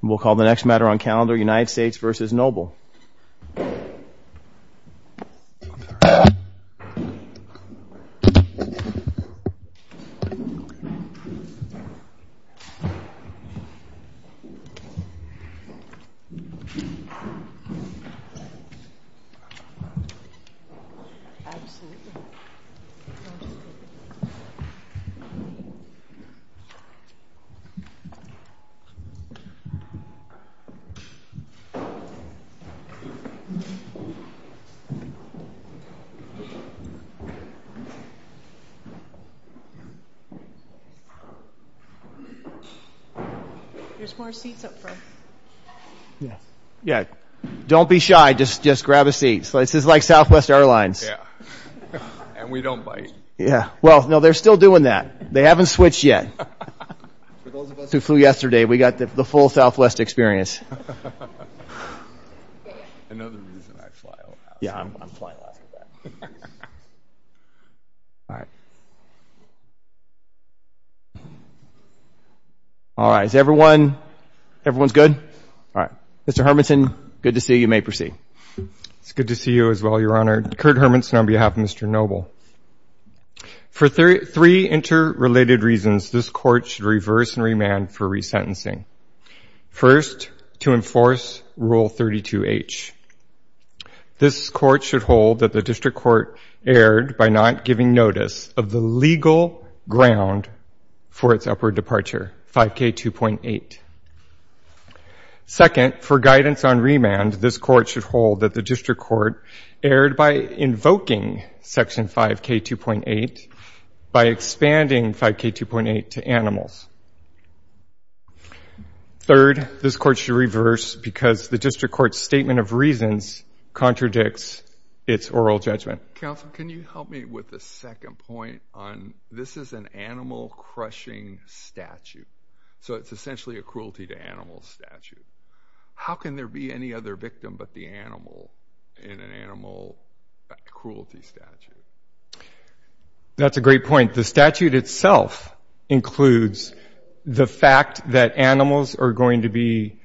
We'll call the next matter on calendar, United States v. Noble. Don't be shy, just grab a seat. This is like Southwest Airlines. Yeah, and we don't bite. Yeah, well, no, they're still doing that. They haven't switched yet. For those of us who flew yesterday, we got the full Southwest experience. Another reason I fly overhaul. Yeah, I'm flying a lot like that. All right. All right, is everyone, everyone's good? All right, Mr. Hermanson, good to see you. You may proceed. It's good to see you as well, Your Honor. Kurt Hermanson on behalf of Mr. Noble. For three interrelated reasons, this court should reverse and remand for resentencing. First, to enforce Rule 32H. This court should hold that the district court erred by not giving notice of the legal ground for its upward departure, 5K2.8. Second, for guidance on remand, this court should hold that the district court erred by invoking Section 5K2.8 by expanding 5K2.8 to animals. Third, this court should reverse because the district court's statement of reasons contradicts its oral judgment. Counsel, can you help me with a second point on this is an animal-crushing statute, so it's essentially a cruelty to animals statute. How can there be any other victim but the animal in an animal cruelty statute? That's a great point. The statute itself includes the fact that animals are going to be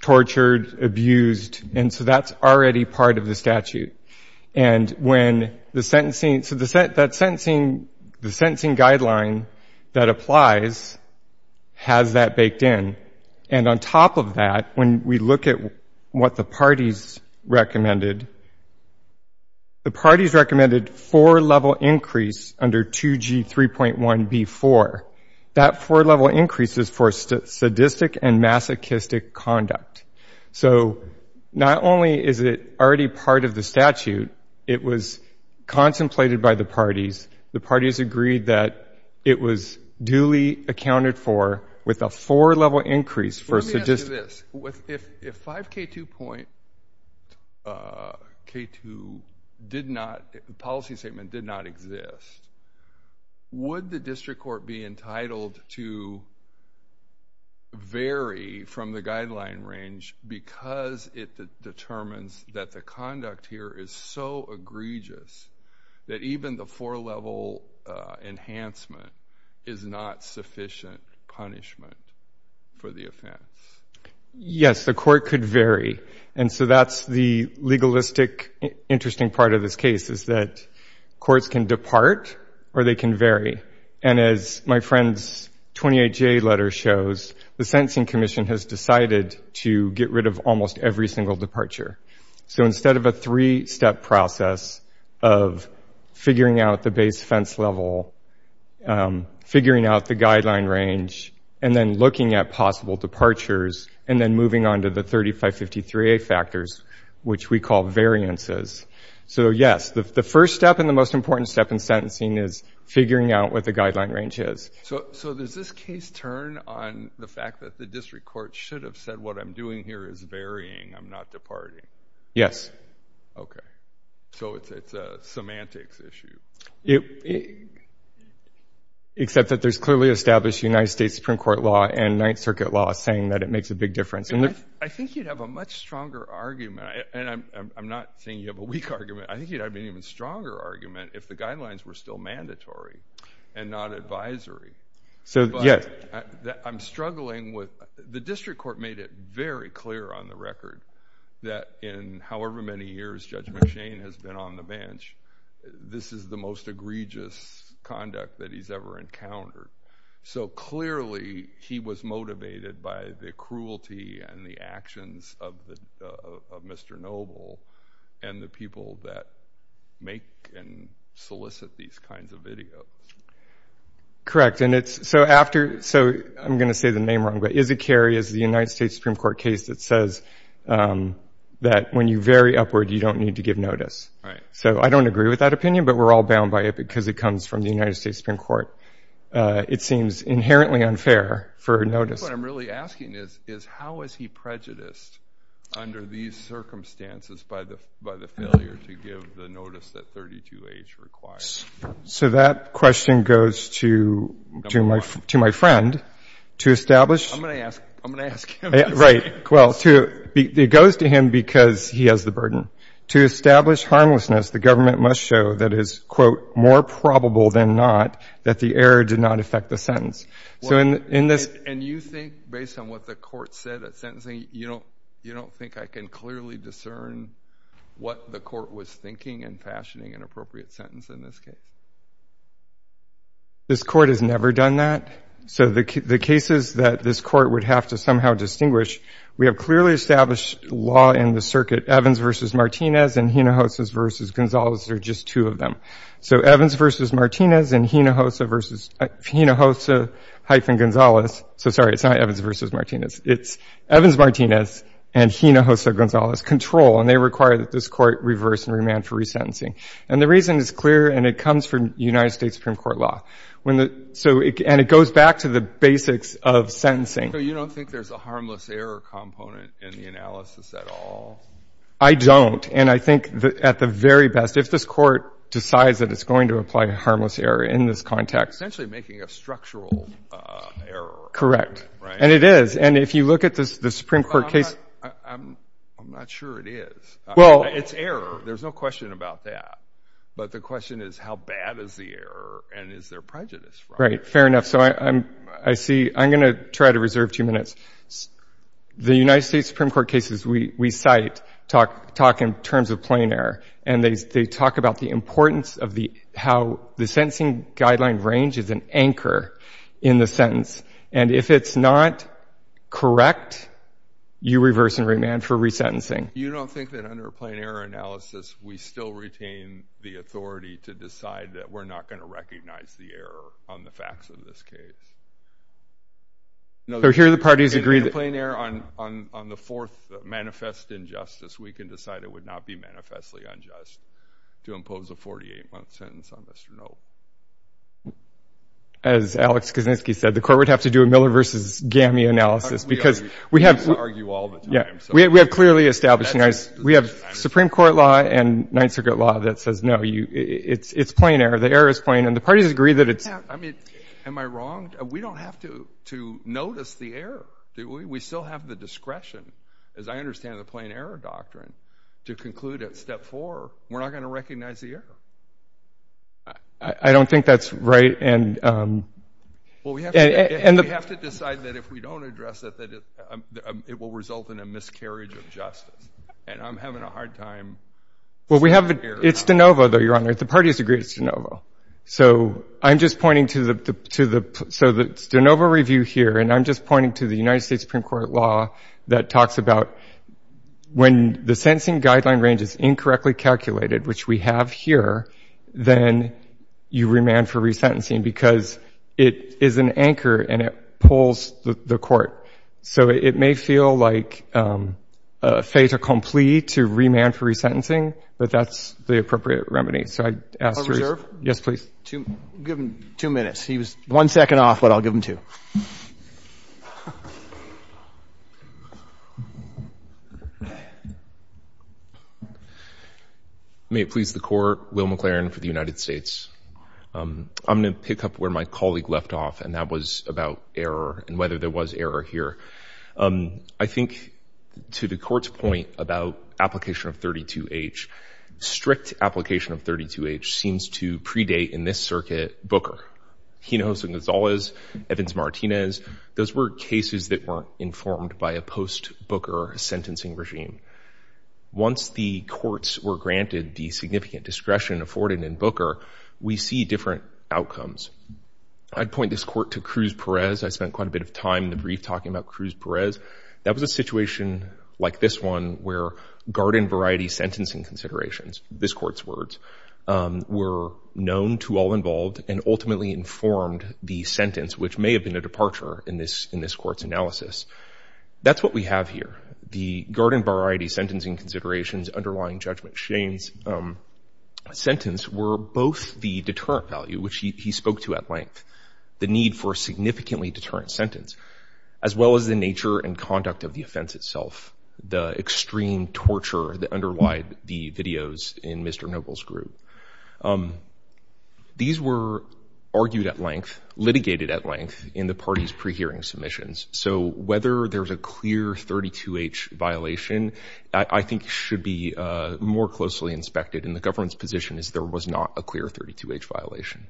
tortured, abused, and so that's already part of the statute. And when the sentencing, so the sentencing guideline that applies has that baked in. And on top of that, when we look at what the parties recommended, the parties recommended four-level increase under 2G3.1B4. That four-level increase is for sadistic and masochistic conduct. So not only is it already part of the statute, it was contemplated by the parties. The parties agreed that it was duly accounted for with a four-level increase for sadistic. If 5K2 did not, the policy statement did not exist, would the district court be entitled to vary from the guideline range because it determines that the conduct here is so egregious that even the four-level enhancement is not sufficient punishment for the offense? Yes, the court could vary. And so that's the legalistic interesting part of this case is that courts can depart or they can vary. And as my friend's 28-J letter shows, the Sentencing Commission has decided to get rid of almost every single departure. So instead of a three-step process of figuring out the base fence level, figuring out the guideline range, and then looking at possible departures, and then moving on to the 3553A factors, which we call variances. So, yes, the first step and the most important step in sentencing is figuring out what the guideline range is. So does this case turn on the fact that the district court should have said what I'm doing here is varying, I'm not departing? Yes. Okay. So it's a semantics issue. Except that there's clearly established United States Supreme Court law and Ninth Circuit law saying that it makes a big difference. I think you'd have a much stronger argument. And I'm not saying you have a weak argument. I think you'd have an even stronger argument if the guidelines were still mandatory and not advisory. So, yes. I'm struggling with the district court made it very clear on the record that in however many years Judge McShane has been on the bench, this is the most egregious conduct that he's ever encountered. So, clearly, he was motivated by the cruelty and the actions of Mr. Noble and the people that make and solicit these kinds of videos. Correct. And it's – so after – so I'm going to say the name wrong, but Izzat-Kerry is the United States Supreme Court case that says that when you vary upward, you don't need to give notice. Right. So I don't agree with that opinion, but we're all bound by it because it comes from the United States Supreme Court. It seems inherently unfair for notice. What I'm really asking is how is he prejudiced under these circumstances by the failure to give the notice that 32H requires? So that question goes to my friend to establish – I'm going to ask him. Right. Well, it goes to him because he has the burden. To establish harmlessness, the government must show that it is, quote, more probable than not that the error did not affect the sentence. So in this – And you think, based on what the court said at sentencing, you don't think I can clearly discern what the court was thinking and fashioning an appropriate sentence in this case? This court has never done that. So the cases that this court would have to somehow distinguish, we have clearly established law in the circuit. Evans v. Martinez and Hinojosa v. Gonzalez are just two of them. So Evans v. Martinez and Hinojosa v. – Hinojosa-Gonzalez – so, sorry, it's not Evans v. Martinez. It's Evans-Martinez and Hinojosa-Gonzalez control, and they require that this court reverse and remand for resentencing. And the reason is clear, and it comes from United States Supreme Court law. And it goes back to the basics of sentencing. So you don't think there's a harmless error component in the analysis at all? I don't. And I think, at the very best, if this court decides that it's going to apply harmless error in this context – Essentially making a structural error. Correct. And it is. And if you look at the Supreme Court case – I'm not sure it is. It's error. There's no question about that. But the question is, how bad is the error, and is there prejudice? Right. Fair enough. So I see – I'm going to try to reserve two minutes. The United States Supreme Court cases we cite talk in terms of plain error, and they talk about the importance of how the sentencing guideline range is an anchor in the sentence. And if it's not correct, you reverse and remand for resentencing. You don't think that under a plain error analysis we still retain the authority to decide that we're not going to recognize the error on the facts of this case? Here the parties agree that – In a plain error, on the fourth manifest injustice, we can decide it would not be manifestly unjust to impose a 48-month sentence on Mr. Knope. As Alex Krasinski said, the court would have to do a Miller v. GAMI analysis because we have – We argue all the time. We have clearly established – we have Supreme Court law and Ninth Circuit law that says, no, it's plain error, the error is plain, and the parties agree that it's – Yeah, I mean, am I wrong? We don't have to notice the error. We still have the discretion, as I understand the plain error doctrine, to conclude at step four we're not going to recognize the error. I don't think that's right, and – Well, we have to decide that if we don't address it, that it will result in a miscarriage of justice, and I'm having a hard time – Well, we have – it's de novo, though, Your Honor. The parties agree it's de novo. So I'm just pointing to the – so it's de novo review here, and I'm just pointing to the United States Supreme Court law that talks about when the sentencing guideline range is incorrectly calculated, which we have here, then you remand for resentencing because it is an anchor and it pulls the court. So it may feel like fait accompli to remand for resentencing, but that's the appropriate remedy. So I'd ask – Court reserved? Yes, please. Give him two minutes. He was one second off, but I'll give him two. May it please the Court, Will McLaren for the United States. I'm going to pick up where my colleague left off, and that was about error and whether there was error here. I think, to the Court's point about application of 32H, strict application of 32H seems to predate, in this circuit, Booker. He knows who Gonzalez, Evans-Martinez, and others are. Evans-Martinez, those were cases that weren't informed by a post-Booker sentencing regime. Once the courts were granted the significant discretion afforded in Booker, we see different outcomes. I'd point this Court to Cruz-Perez. I spent quite a bit of time in the brief talking about Cruz-Perez. That was a situation like this one where garden-variety sentencing considerations, this Court's words, were known to all involved and ultimately informed the sentence, which may have been a departure in this Court's analysis. That's what we have here. The garden-variety sentencing considerations underlying Judge McShane's sentence were both the deterrent value, which he spoke to at length, the need for a significantly deterrent sentence, as well as the nature and conduct of the offense itself, the extreme torture that underlied the videos in Mr. Noble's group. These were argued at length, litigated at length, in the parties' pre-hearing submissions. So whether there's a clear 32-H violation I think should be more closely inspected, and the government's position is there was not a clear 32-H violation.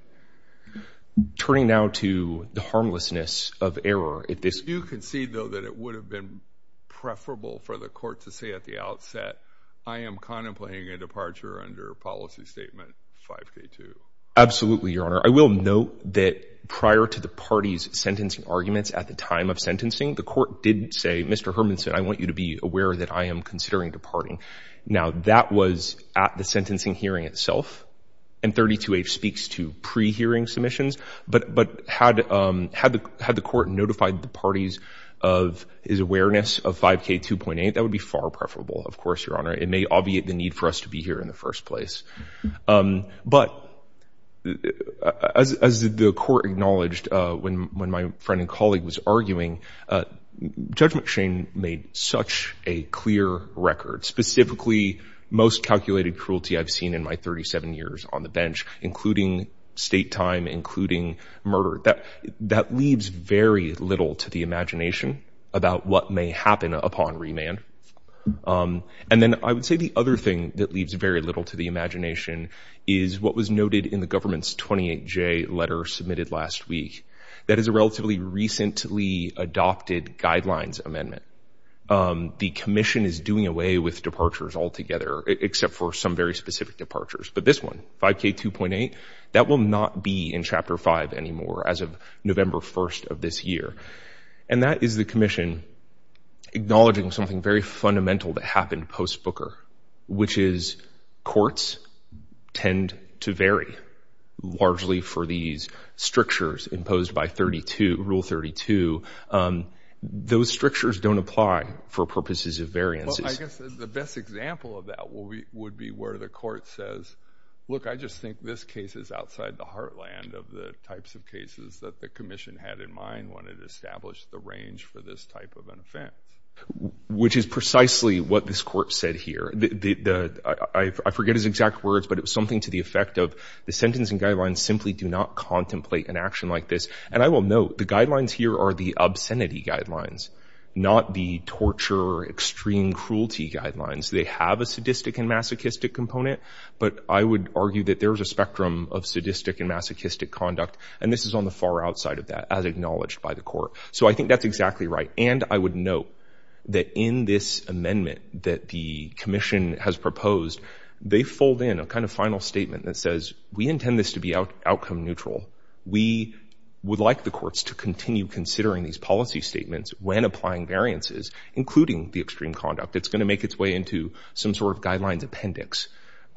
Turning now to the harmlessness of error. I do concede, though, that it would have been preferable for the Court to say at the outset, I am contemplating a departure under Policy Statement 5K2. Absolutely, Your Honor. I will note that prior to the parties' sentencing arguments at the time of sentencing, the Court did say, Mr. Hermanson, I want you to be aware that I am considering departing. Now, that was at the sentencing hearing itself, and 32-H speaks to pre-hearing submissions, but had the Court notified the parties of his awareness of 5K2.8, I think that would be far preferable, of course, Your Honor. It may obviate the need for us to be here in the first place. But as the Court acknowledged when my friend and colleague was arguing, Judge McShane made such a clear record, specifically most calculated cruelty I've seen in my 37 years on the bench, including state time, including murder. That leaves very little to the imagination about what may happen upon remand. And then I would say the other thing that leaves very little to the imagination is what was noted in the government's 28-J letter submitted last week. That is a relatively recently adopted guidelines amendment. The Commission is doing away with departures altogether, except for some very specific departures. But this one, 5K2.8, that will not be in Chapter 5 anymore as of November 1st of this year. And that is the Commission acknowledging something very fundamental that happened post-Booker, which is courts tend to vary largely for these strictures imposed by Rule 32. Those strictures don't apply for purposes of variances. Well, I guess the best example of that would be where the Court says, look, I just think this case is outside the heartland of the types of cases that the Commission had in mind when it established the range for this type of an offense. Which is precisely what this Court said here. I forget his exact words, but it was something to the effect of the sentencing guidelines simply do not contemplate an action like this. And I will note the guidelines here are the obscenity guidelines, not the torture or extreme cruelty guidelines. They have a sadistic and masochistic component, but I would argue that there's a spectrum of sadistic and masochistic conduct, and this is on the far outside of that, as acknowledged by the Court. So I think that's exactly right. And I would note that in this amendment that the Commission has proposed, they fold in a kind of final statement that says, we intend this to be outcome neutral. We would like the courts to continue considering these policy statements when applying variances, including the extreme conduct. It's going to make its way into some sort of guidelines appendix.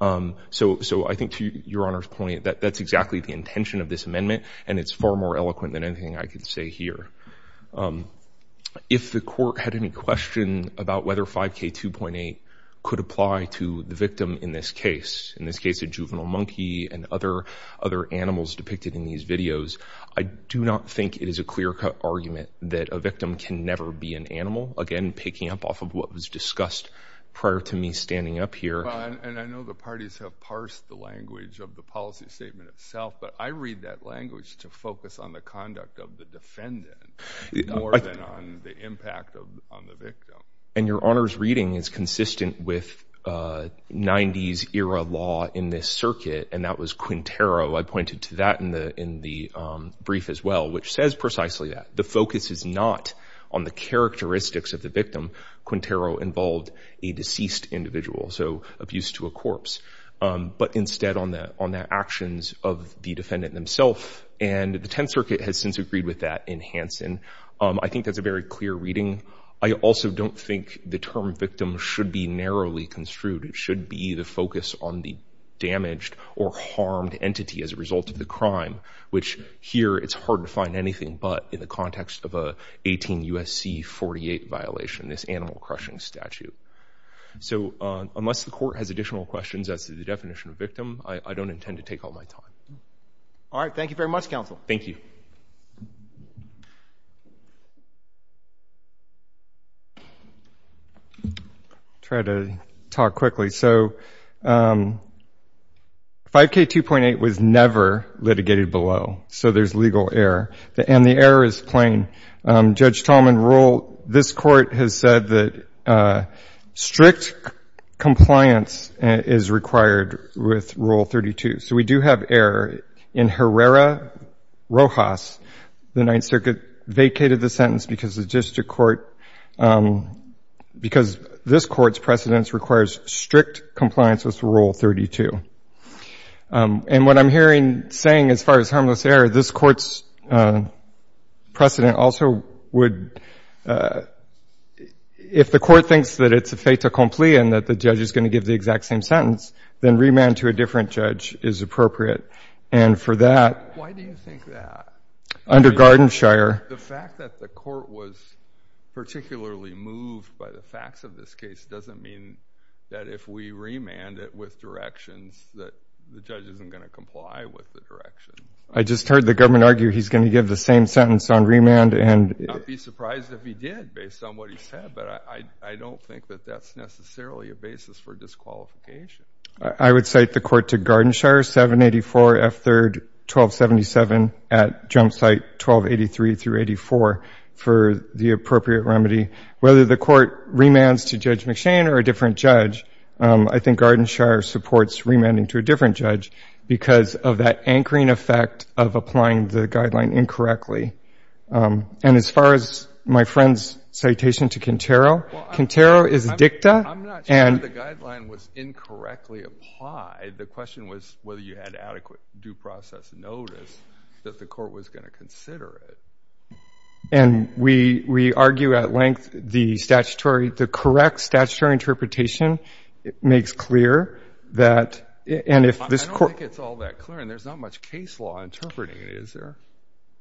So I think to Your Honor's point, that's exactly the intention of this amendment, and it's far more eloquent than anything I could say here. If the Court had any question about whether 5K2.8 could apply to the victim in this case, in this case a juvenile monkey and other animals depicted in these videos, I do not think it is a clear-cut argument that a victim can never be an animal, again picking up off of what was discussed prior to me standing up here. And I know the parties have parsed the language of the policy statement itself, but I read that language to focus on the conduct of the defendant more than on the impact on the victim. And Your Honor's reading is consistent with 90s-era law in this circuit, and that was Quintero. I pointed to that in the brief as well, which says precisely that. The focus is not on the characteristics of the victim. Quintero involved a deceased individual, so abuse to a corpse, but instead on the actions of the defendant themself. And the Tenth Circuit has since agreed with that in Hansen. I think that's a very clear reading. I also don't think the term victim should be narrowly construed. It should be the focus on the damaged or harmed entity as a result of the crime, which here it's hard to find anything but in the context of an 18 U.S.C. 48 violation, this animal-crushing statute. So unless the court has additional questions as to the definition of victim, I don't intend to take all my time. All right, thank you very much, counsel. Thank you. I'll try to talk quickly. So 5K2.8 was never litigated below, so there's legal error. And the error is plain. Judge Tallman, this court has said that strict compliance is required with Rule 32. So we do have error in Herrera-Rojas. The Ninth Circuit vacated the sentence because the district court, because this court's precedence requires strict compliance with Rule 32. And what I'm saying as far as harmless error, this court's precedent also would, if the court thinks that it's a fait accompli and that the judge is going to give the exact same sentence, then remand to a different judge is appropriate. And for that, under Garden Shire. The fact that the court was particularly moved by the facts of this case doesn't mean that if we remand it with directions that the judge isn't going to comply with the direction. I just heard the government argue he's going to give the same sentence on remand. I'd be surprised if he did based on what he said, but I don't think that that's necessarily a basis for disqualification. I would cite the court to Garden Shire, 784 F. 3rd, 1277, at jump site 1283 through 84 for the appropriate remedy. Whether the court remands to Judge McShane or a different judge, I think Garden Shire supports remanding to a different judge because of that anchoring effect of applying the guideline incorrectly. And as far as my friend's citation to Contero, Contero is a dicta. I'm not sure the guideline was incorrectly applied. The question was whether you had adequate due process notice that the court was going to consider it. And we argue at length the correct statutory interpretation makes clear that... I don't think it's all that clear, and there's not much case law interpreting it, is there?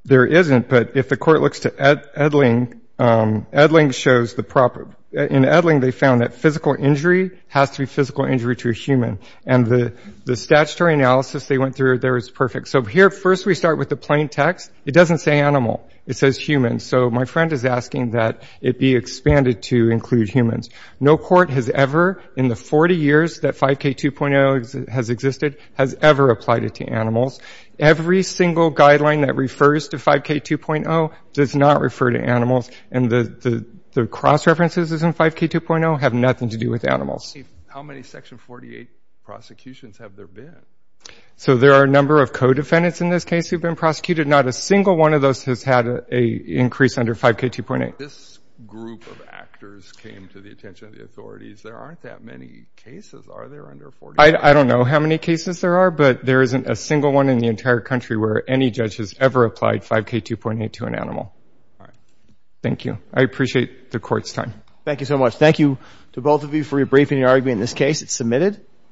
There isn't. But if the court looks to Edling, Edling shows the proper... In Edling, they found that physical injury has to be physical injury to a human. And the statutory analysis they went through there is perfect. So here, first we start with the plain text. It doesn't say animal. It says human. So my friend is asking that it be expanded to include humans. No court has ever, in the 40 years that 5K 2.0 has existed, has ever applied it to animals. Every single guideline that refers to 5K 2.0 does not refer to animals. And the cross-references in 5K 2.0 have nothing to do with animals. How many Section 48 prosecutions have there been? So there are a number of co-defendants in this case who have been prosecuted. Not a single one of those has had an increase under 5K 2.8. This group of actors came to the attention of the authorities. There aren't that many cases, are there, under 48? I don't know how many cases there are, but there isn't a single one in the entire country where any judge has ever applied 5K 2.8 to an animal. Thank you. I appreciate the court's time. Thank you so much. Thank you to both of you for rebriefing your argument in this case. It's submitted.